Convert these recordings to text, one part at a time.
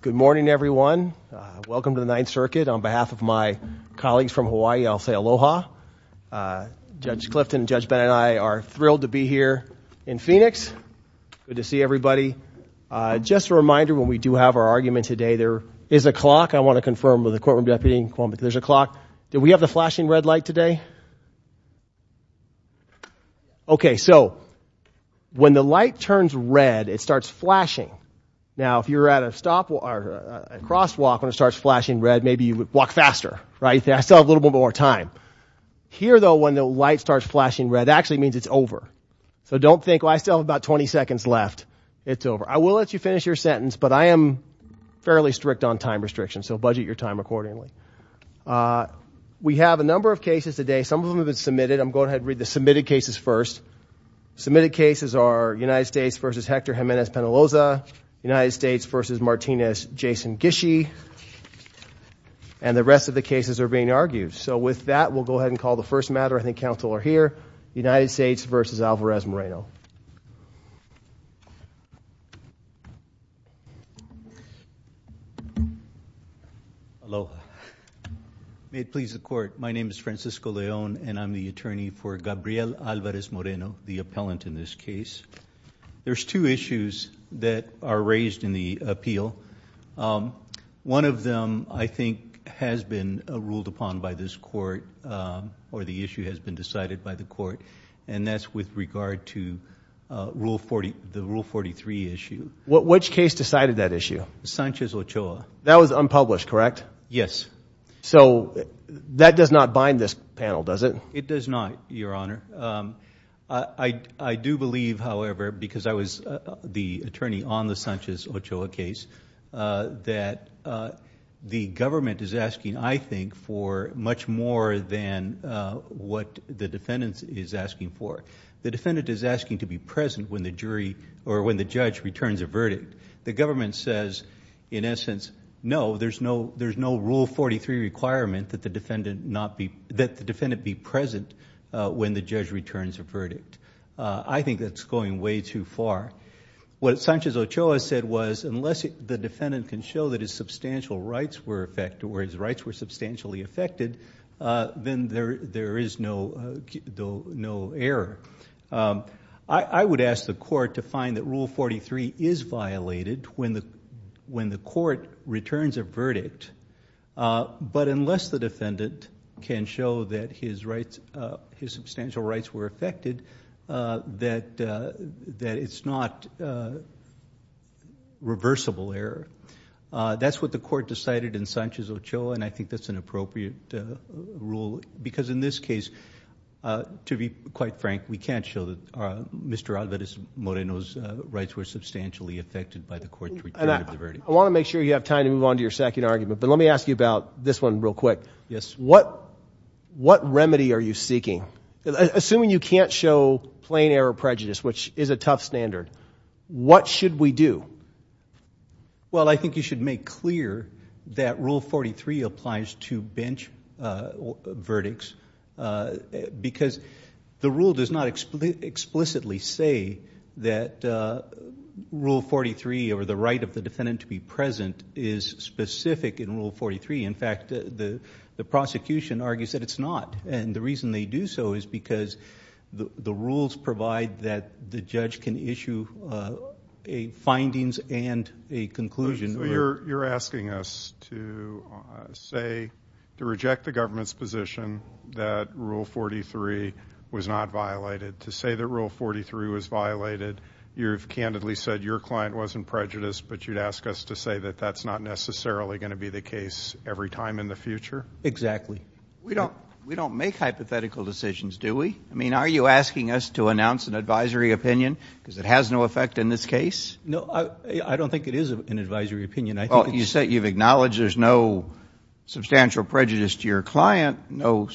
Good morning, everyone. Welcome to the Ninth Circuit. On behalf of my colleagues from Hawaii, I'll say aloha. Judge Clifton, Judge Bennett, and I are thrilled to be here in Phoenix. Good to see everybody. Just a reminder, when we do have our argument today, there is a clock. I want to confirm with the courtroom deputy, there's a clock. Do we have the flashing red light today? Okay, so, when the light turns red, it starts flashing. Now, if you're at a stop or a crosswalk and it starts flashing red, maybe you would walk faster, right? You still have a little bit more time. Here, though, when the light starts flashing red, it actually means it's over. So don't think, well, I still have about 20 seconds left. It's over. I will let you finish your sentence, but I am fairly strict on time restrictions, so budget your time accordingly. We have a number of cases today. Some of them have been submitted. I'm going to go ahead and read the submitted cases first. Submitted cases are United States v. Hector Jimenez-Penaloza, United States v. Martinez Jason Gishy, and the rest of the cases are being argued. So with that, we'll go ahead and call the first matter. I think is Francisco Leon, and I'm the attorney for Gabriel Alvarez Moreno, the appellant in this case. There's two issues that are raised in the appeal. One of them, I think, has been ruled upon by this court, or the issue has been decided by the court, and that's with regard to the Rule 43 issue. Which case decided that issue? Sanchez-Ochoa. That was unpublished, correct? Yes. So that does not bind this panel, does it? It does not, Your Honor. I do believe, however, because I was the attorney on the Sanchez-Ochoa case, that the government is asking for it. The defendant is asking to be present when the judge returns a verdict. The government says, in essence, no, there's no Rule 43 requirement that the defendant be present when the judge returns a verdict. I think that's going way too far. What Sanchez-Ochoa said was, unless the defendant can show that his rights were substantially affected, then there is no error. I would ask the court to find that Rule 43 is violated when the court returns a verdict, but unless the defendant can show that his substantial rights were affected, that it's not reversible error. That's what the court decided in Sanchez-Ochoa, and I think that's an appropriate rule, because in this case, to be quite frank, we can't show that Mr. Alvarez-Moreno's rights were substantially affected by the court's return of the verdict. I want to make sure you have time to move on to your second argument, but let me ask you about this one real quick. Yes. What remedy are you seeking? Assuming you can't show plain error prejudice, which is a tough standard, what should we do? Well, I think you should make clear that Rule 43 applies to bench verdicts, because the rule does not explicitly say that Rule 43, or the right of the defendant to be present, is specific in Rule 43. In fact, the prosecution argues that it's not, and the reason they do so is because the rules provide that the judge can issue findings and a conclusion. So you're asking us to reject the government's position that Rule 43 was not violated. To say that Rule 43 was violated, you've candidly said your client wasn't prejudiced, but you'd ask us to say that that's not necessarily going to be the case every time in the future? Exactly. We don't make hypothetical decisions, do we? I mean, are you asking us to announce an advisory opinion, because it has no effect in this case? No, I don't think it is an advisory opinion. Well, you've acknowledged there's no substantial prejudice to your client, no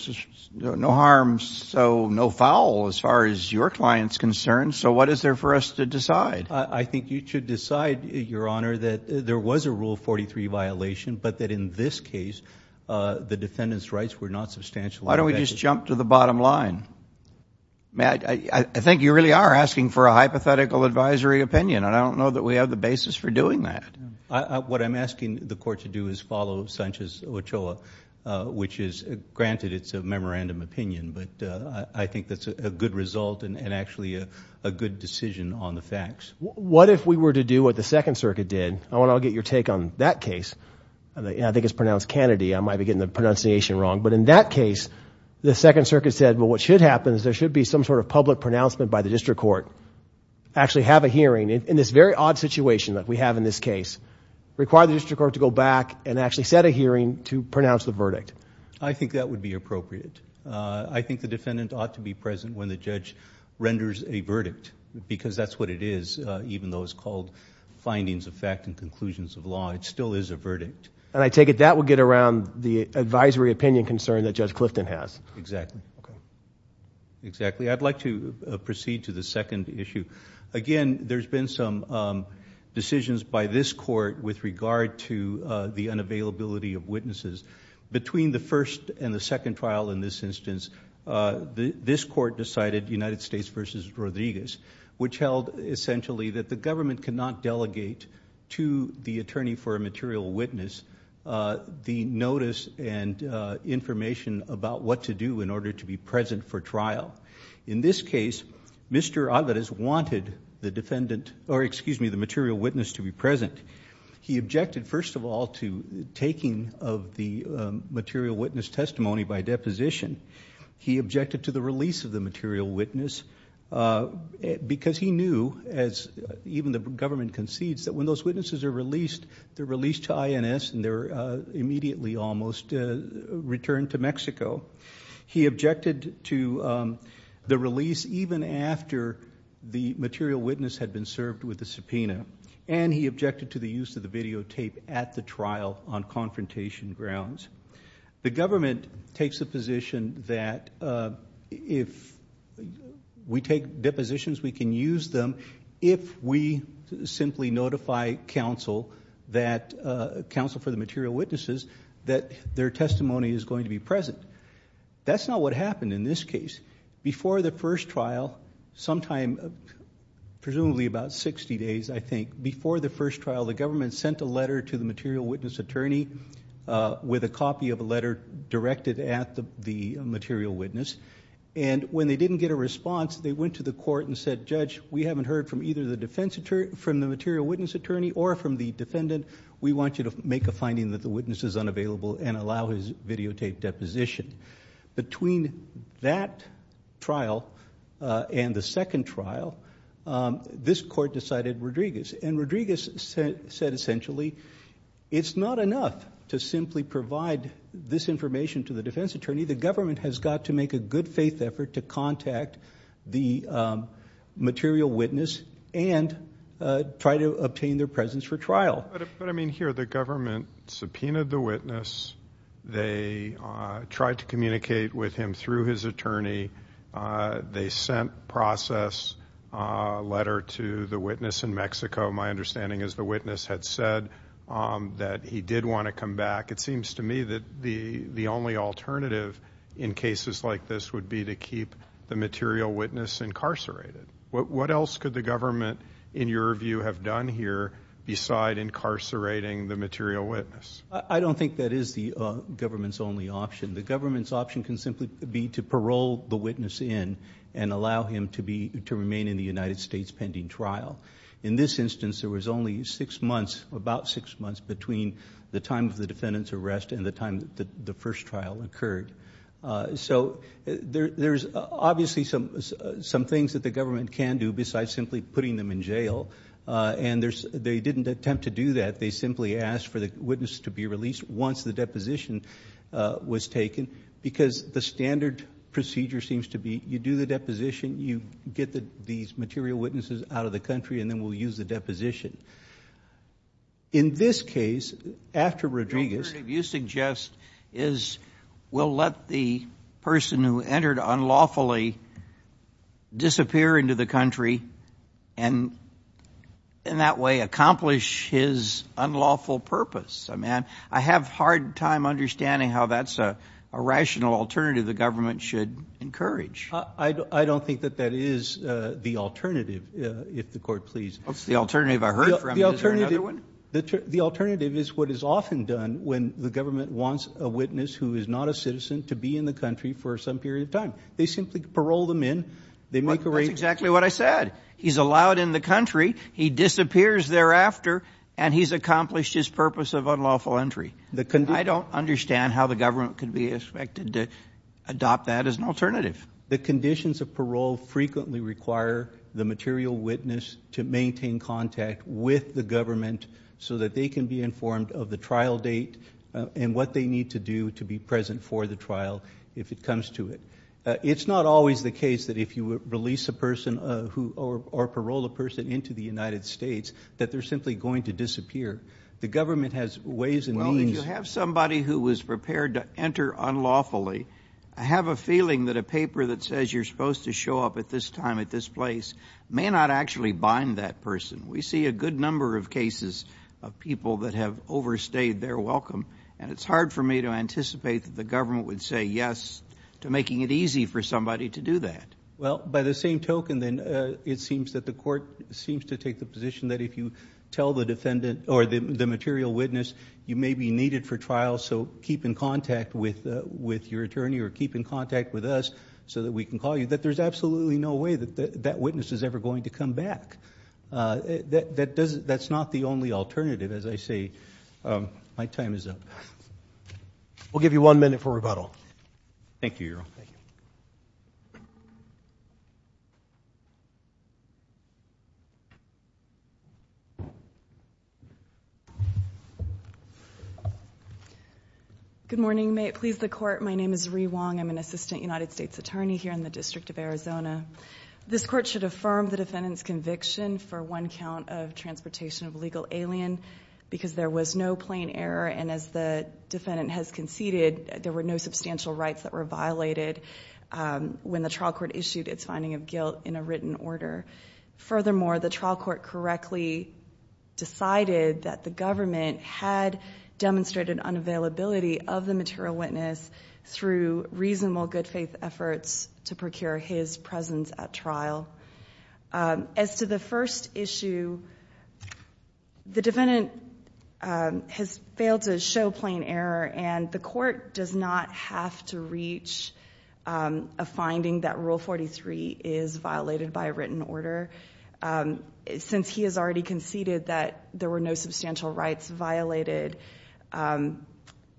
harm, so no foul as far as your client's concerned. So what is there for us to decide? I think you should decide, Your Honor, that there was a Rule 43 violation, but that in this case, the defendant's rights were not substantially affected. Why don't we just jump to the bottom line? I think you really are asking for a hypothetical advisory opinion, and I don't know that we have the basis for doing that. What I'm asking the Court to do is follow Sanchez-Ochoa, which is, granted, it's a memorandum opinion, but I think that's a good result and actually a good decision on the facts. What if we were to do what the I might be getting the pronunciation wrong, but in that case, the Second Circuit said, well, what should happen is there should be some sort of public pronouncement by the District Court, actually have a hearing, in this very odd situation that we have in this case, require the District Court to go back and actually set a hearing to pronounce the verdict. I think that would be appropriate. I think the defendant ought to be present when the judge renders a verdict, because that's what it is, even though it's called findings of fact and conclusions of law, it still is a verdict. I take it that would get around the advisory opinion concern that Judge Clifton has. Exactly. I'd like to proceed to the second issue. Again, there's been some decisions by this Court with regard to the unavailability of witnesses. Between the first and the second trial in this instance, this Court decided United States v. Rodriguez, which held essentially that the government cannot delegate to the attorney for a material witness the notice and information about what to do in order to be present for trial. In this case, Mr. Alvarez wanted the material witness to be present. He objected first of all to taking of the material witness testimony by deposition. He objected to the deposition, because he knew, as even the government concedes, that when those witnesses are released, they're released to INS and they're immediately almost returned to Mexico. He objected to the release even after the material witness had been served with a subpoena. He objected to the use of the videotape at the trial on confrontation grounds. The government takes the position that if we take depositions, we can use them if we simply notify counsel for the material witnesses that their testimony is going to be present. That's not what happened in this case. Before the first trial, sometime, presumably about 60 days, I think, before the first trial, the government sent a letter to the material witness attorney with a copy of a letter directed at the material witness. When they didn't get a response, they went to the court and said, Judge, we haven't heard from either the material witness attorney or from the defendant. We want you to make a finding that the witness is unavailable and allow his videotape deposition. Between that trial and the second trial, this court decided Rodriguez. Rodriguez said, essentially, it's not enough to simply provide this information to the defense attorney. The government has got to make a good faith effort to contact the material witness and try to obtain their presence for trial. But I mean, here, the government subpoenaed the witness. They tried to communicate with him through his attorney. They sent process letter to the witness in Mexico. My understanding is the witness had said that he did want to come back. It seems to me that the only alternative in cases like this would be to keep the material witness incarcerated. What else could the government, in your view, have done here besides incarcerating the material witness? I don't think that is the government's only option. The government's option can simply be to parole the witness in and allow him to remain in the United States pending trial. In this instance, there was only six months, about six months, between the time of the defendant's arrest and the time that the first trial occurred. So there's obviously some things that the government can do besides simply putting them in jail. And they didn't attempt to do that. They simply asked for the witness to be released once the deposition was taken because the standard procedure seems to be you do the deposition, you get these material witnesses out of the country, and then we'll use the deposition. In this case, after Rodriguez Your suggestion is we'll let the person who entered unlawfully disappear into the country and in that way accomplish his unlawful purpose. I mean, I have a hard time understanding how that's a rational alternative the government should encourage. I don't think that that is the alternative, if the court pleases. What's the alternative I heard from? Is there another one? The alternative is what is often done when the government wants a witness who is not a citizen to be in the country for some period of time. They simply parole them in. That's exactly what I said. He's allowed in the country, he disappears thereafter, and he's accomplished his purpose of unlawful entry. I don't understand how the government could be expected to adopt that as an alternative. The conditions of parole frequently require the material witness to maintain contact with the government so that they can be informed of the trial date and what they need to do to be present for the trial if it comes to it. It's not always the case that if you release a person or parole a person into the United States that they're simply going to disappear. The government has ways and means Well, if you have somebody who was prepared to enter unlawfully, I have a feeling that a paper that says you're supposed to show up at this time at this place may not actually bind that person. We see a good number of cases of people that have overstayed their welcome, and it's hard for me to anticipate that the government would say yes to making it easy for somebody to do that. Well, by the same token, then, it seems that the court seems to take the position that if you tell the defendant or the material witness you may be needed for trial, so keep in contact with your attorney or keep in contact with us so that we can call you, that there's absolutely no way that that witness is ever going to come back. That's not the only alternative, as I say. My time is up. We'll give you one minute for rebuttal. Thank you, Your Honor. Good morning. May it please the court, my name is Rui Wong. I'm an assistant United States attorney here in the District of Arizona. This court should affirm the defendant's conviction for one count of transportation of a legal alien because there was no plain error and as the defendant has conceded, there were no substantial rights that were violated when the trial court issued its finding of guilt in a written order. Furthermore, the trial court correctly decided that the government had demonstrated unavailability of the material witness through reasonable good faith efforts to procure his presence at trial. As to the first issue, the defendant has failed to show plain error and the court does not have to reach a finding that Rule 43 is violated by a written order. Since he has already conceded that there were no substantial rights violated,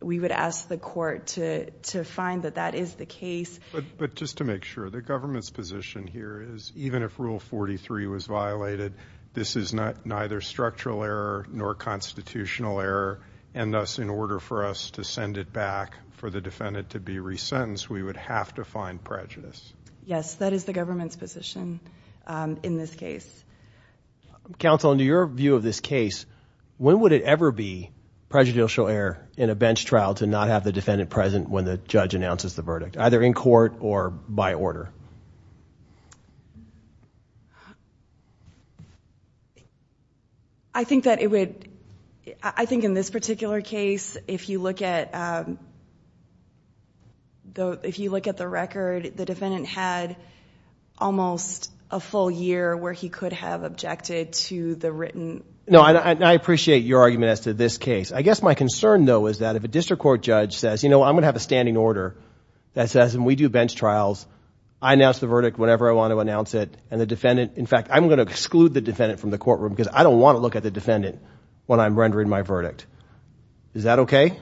we would ask the court to find that that is the case. But just to make sure, the government's position here is even if Rule 43 was violated, this is neither structural error nor constitutional error and thus in order for us to send it back for the defendant to be resentenced, we would have to find prejudice. Yes, that is the government's position in this case. Counsel in your view of this case, when would it ever be prejudicial error in a bench trial to not have the defendant present when the judge announces the verdict, either in court or by order? I think that it would, I think in this particular case, if you look at the record, the defendant had almost a full year where he could have objected to the written. No, I appreciate your argument as to this case. I guess my concern though is that if a district court judge says, you know, I'm going to have a standing order that says when we do bench trials, I announce the verdict whenever I want to announce it and the defendant, in fact, I'm going to exclude the defendant from the courtroom because I don't want to look at the defendant when I'm rendering my verdict. Is that okay?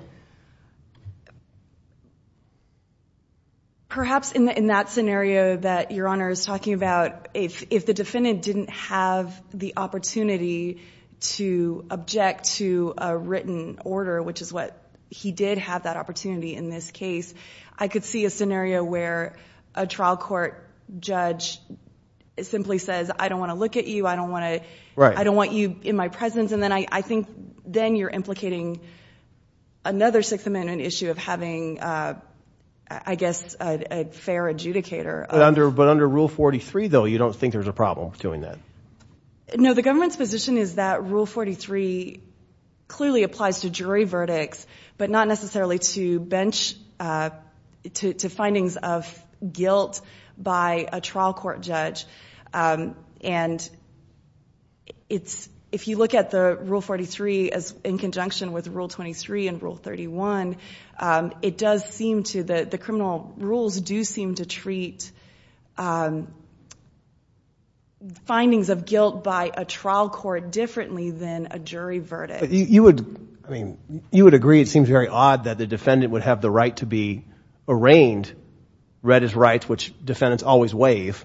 Perhaps in that scenario that Your Honor is talking about, if the defendant didn't have the opportunity to object to a written order, which is what he did have that opportunity in this case, I could see a scenario where a trial court judge simply says, I don't want to look at you. I don't want you in my presence. And then I think then you're implicating another Sixth Amendment issue of having, I guess, a fair adjudicator. But under Rule 43 though, you don't think there's a problem doing that? No, the government's position is that Rule 43 clearly applies to jury verdicts, but not necessarily to bench, to findings of guilt by a trial court judge. And it's, if you look at the Rule 43 as in conjunction with Rule 23 and Rule 31, it does seem to, the criminal rules do seem to treat findings of guilt by a trial court differently than a jury verdict. You would, I mean, you would agree, it seems very odd that the defendant would have the right to be arraigned, read his rights, which defendants always waive.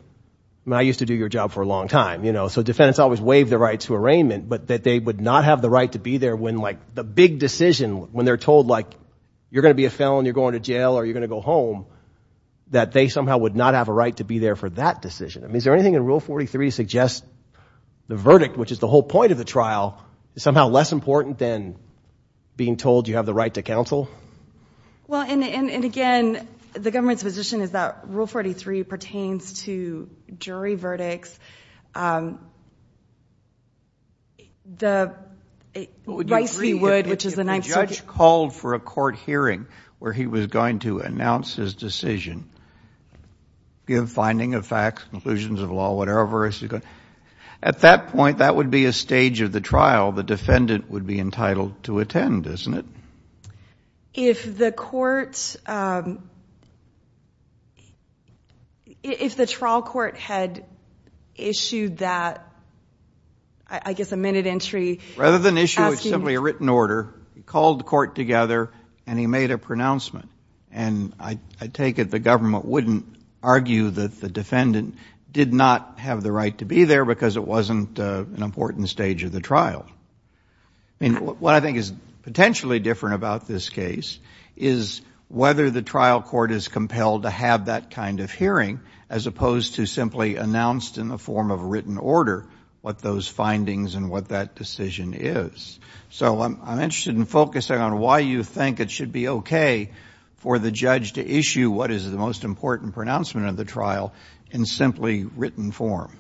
I mean, I used to do your job for a long time, you know, so defendants always waive the right to arraignment, but that they would not have the right to be there when like the big decision, when they're told like, you're going to be a felon, you're going to jail, or you're going to go home, that they somehow would not have a right to be there for that decision. I mean, is there anything in Rule 43 to suggest the verdict, which is the whole point of the trial, is somehow less important than being told you have the right to counsel? Well, and again, the government's position is that Rule 43 pertains to jury verdicts. But would you agree, if a judge called for a court hearing where he was going to announce his decision, give finding of facts, conclusions of law, whatever, at that point, that would be a stage of the trial the defendant would be entitled to attend, isn't it? If the court, if the trial court had issued the ruling, that would be a stage of the trial, would that, I guess a minute entry, asking... Rather than issue simply a written order, he called the court together, and he made a pronouncement. And I take it the government wouldn't argue that the defendant did not have the right to be there because it wasn't an important stage of the trial. I mean, what I think is potentially different about this case is whether the trial court is compelled to have that kind of hearing as opposed to simply announced in the form of a written order what those findings and what that decision is. So I'm interested in focusing on why you think it should be okay for the judge to issue what is the most important pronouncement of the trial in simply written form.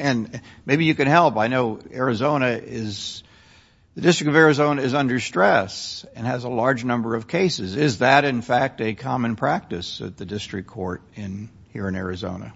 And maybe you can help, I know Arizona is, the District of Arizona is under stress and has a large number of cases. Is that, in fact, a common practice at the district court here in Arizona?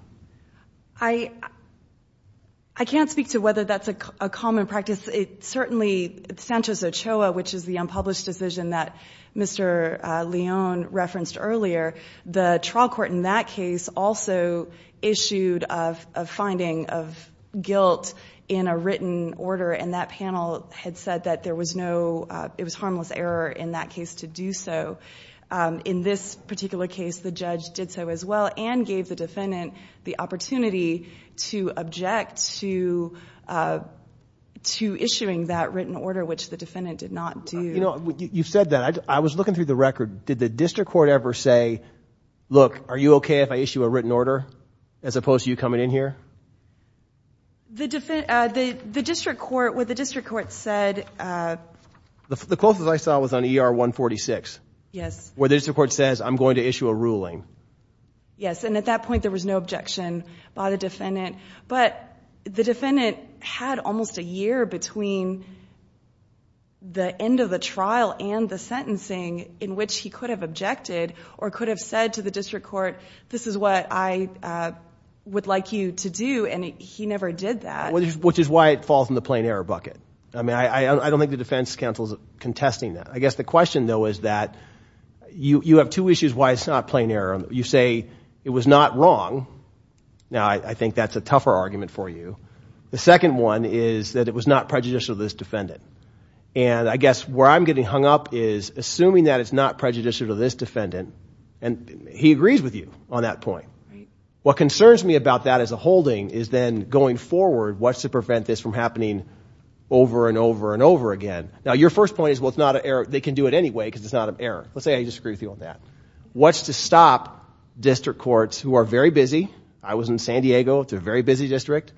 I can't speak to whether that's a common practice. It certainly, Sanchez Ochoa, which is the unpublished decision that Mr. Leon referenced earlier, the trial court in that case also issued a finding of guilt in a written order, and that panel had said that there was no, it was harmless error in that case to do so. In this particular case, the judge did so as well and gave the defendant the opportunity to object to issuing that written order, which the defendant did not do. You said that. I was looking through the record. Did the district court ever say, look, are you okay if I issue a written order as opposed to you coming in here? The district court, what the district court said... The closest I saw was on ER 146, where the district court says I'm going to issue a ruling. Yes, and at that point there was no objection by the defendant, but the defendant had almost a year between the end of the trial and the sentencing in which he could have objected or could have said to the district court, this is what I would like you to do, and he never did that. Which is why it falls in the plain error bucket. I mean, I don't think the defense counsel is contesting that. I guess the question though is that you have two issues why it's not plain error. You say it was not wrong. Now, I think that's a tougher argument for you. The second one is that it was not prejudicial to this defendant, and I guess where I'm getting hung up is assuming that it's not prejudicial to this defendant, and he agrees with you on that point. What concerns me about that as a holding is then going forward, what's to prevent this from happening over and over and over again? Now, your first point is, well, it's not an error. They can do it anyway because it's not an error. Let's say I disagree with you on that. What's to stop district courts who are very busy? I was in San Diego. It's a very busy district.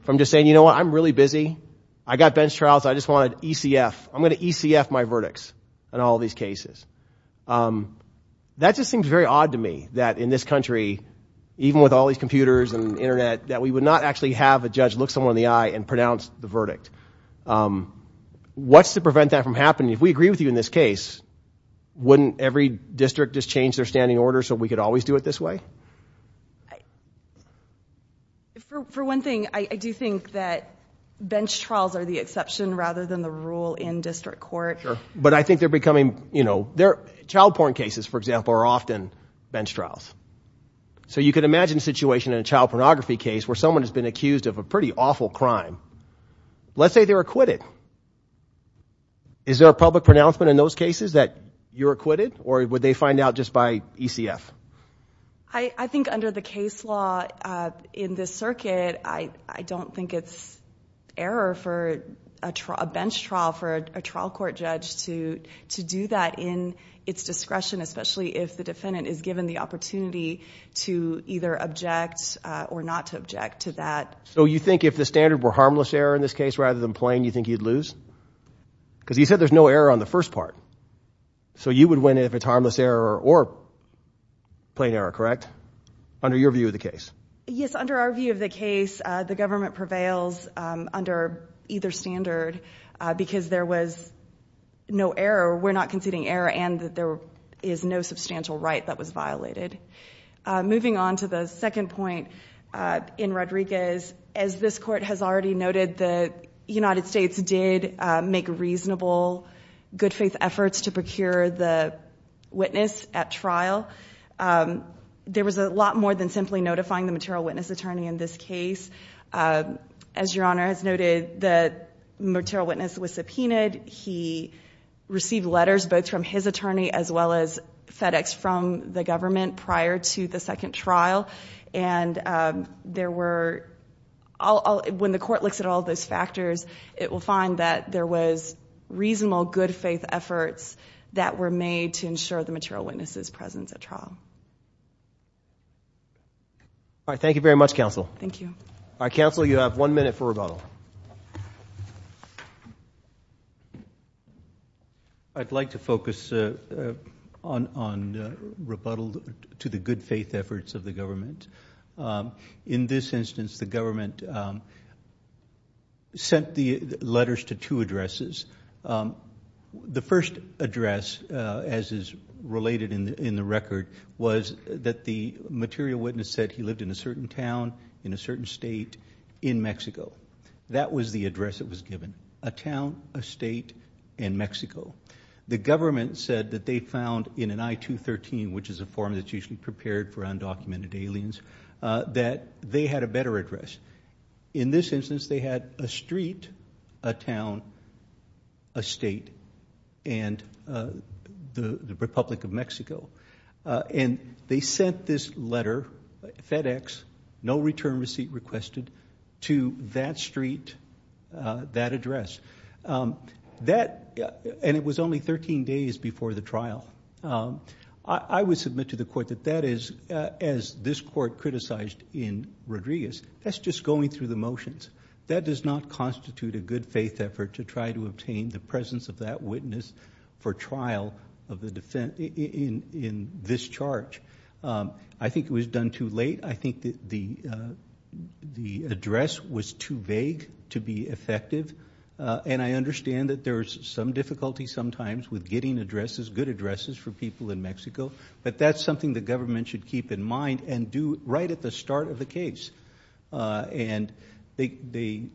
If I'm just saying, you know what? I'm really busy. I got bench trials. I just wanted ECF. I'm going to ECF my verdicts. And all these cases. That just seems very odd to me that in this country, even with all these computers and internet, that we would not actually have a judge look someone in the eye and pronounce the verdict. What's to prevent that from happening? If we agree with you in this case, wouldn't every district just change their standing order so we could always do it this way? For one thing, I do think that bench trials are the exception rather than the rule in district court. But I think they're becoming, you know, child porn cases, for example, are often bench trials. So you can imagine a situation in a child pornography case where someone has been accused of a pretty awful crime. Let's say they're acquitted. Is there a public pronouncement in those cases that you're acquitted or would they find out just by ECF? I think under the case law in this circuit, I don't think it's error for a bench trial for a trial court judge to do that in its discretion, especially if the defendant is given the opportunity to either object or not to object to that. So you think if the standard were harmless error in this case rather than plain, you think you'd lose? Because you said there's no error on the first part. So you would win if it's harmless error or plain error, correct? Under your view of the case? Yes, under our view of the case, the government prevails under either standard because there was no error. We're not conceding error and that there is no substantial right that was violated. Moving on to the second point in Rodriguez, as this court has already noted, the United States did make reasonable good faith efforts to procure the witness at trial. There was a lot more than simply notifying the material witness attorney in this case. As your Honor has noted, the material witness was subpoenaed. He received letters both from his attorney as well as FedEx from the government prior to the second trial. When the court looks at all those factors, it will find that there was reasonable good faith efforts that were made to ensure the material witness's presence at trial. All right. Thank you very much, counsel. Thank you. All right, counsel, you have one minute for rebuttal. I'd like to focus on rebuttal to the good faith efforts of the government. In this instance, the government sent the letters to two addresses. The first address, as is related in the record, was that the material witness said he lived in a certain town, in a certain state in Mexico. That was the address that was given, a town, a state in Mexico. The government said that they found in an I-213, which is a form that's usually prepared for undocumented aliens, that they had a better address. In this instance, they had a street, a town, a state, and the Republic of Mexico. They sent this letter, FedEx, no return receipt requested, to that street, that address. That, and it was only 13 days before the trial. I would submit to the court that that is, as this court criticized in Rodriguez, that's just going through the motions. That does not constitute a good faith effort to try to obtain the presence of that witness for trial in this charge. I think it was done too late. I think the address was too vague to be effective. I understand that there's some difficulty sometimes with getting addresses, good addresses for people in Mexico, but that's something the government should keep in mind and do right at the start of the case. They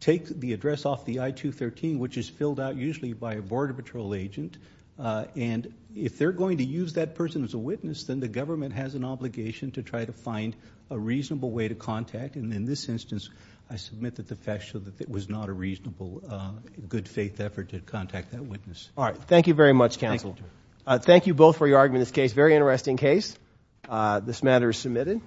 take the address off the I-213, which is filled out usually by a border patrol agent. If they're going to use that person as a witness, then the government has an obligation to try to find a reasonable way to contact. In this case, it was not a reasonable, good faith effort to contact that witness. All right. Thank you very much, counsel. Thank you both for your argument in this case. Very interesting case. This matter is submitted.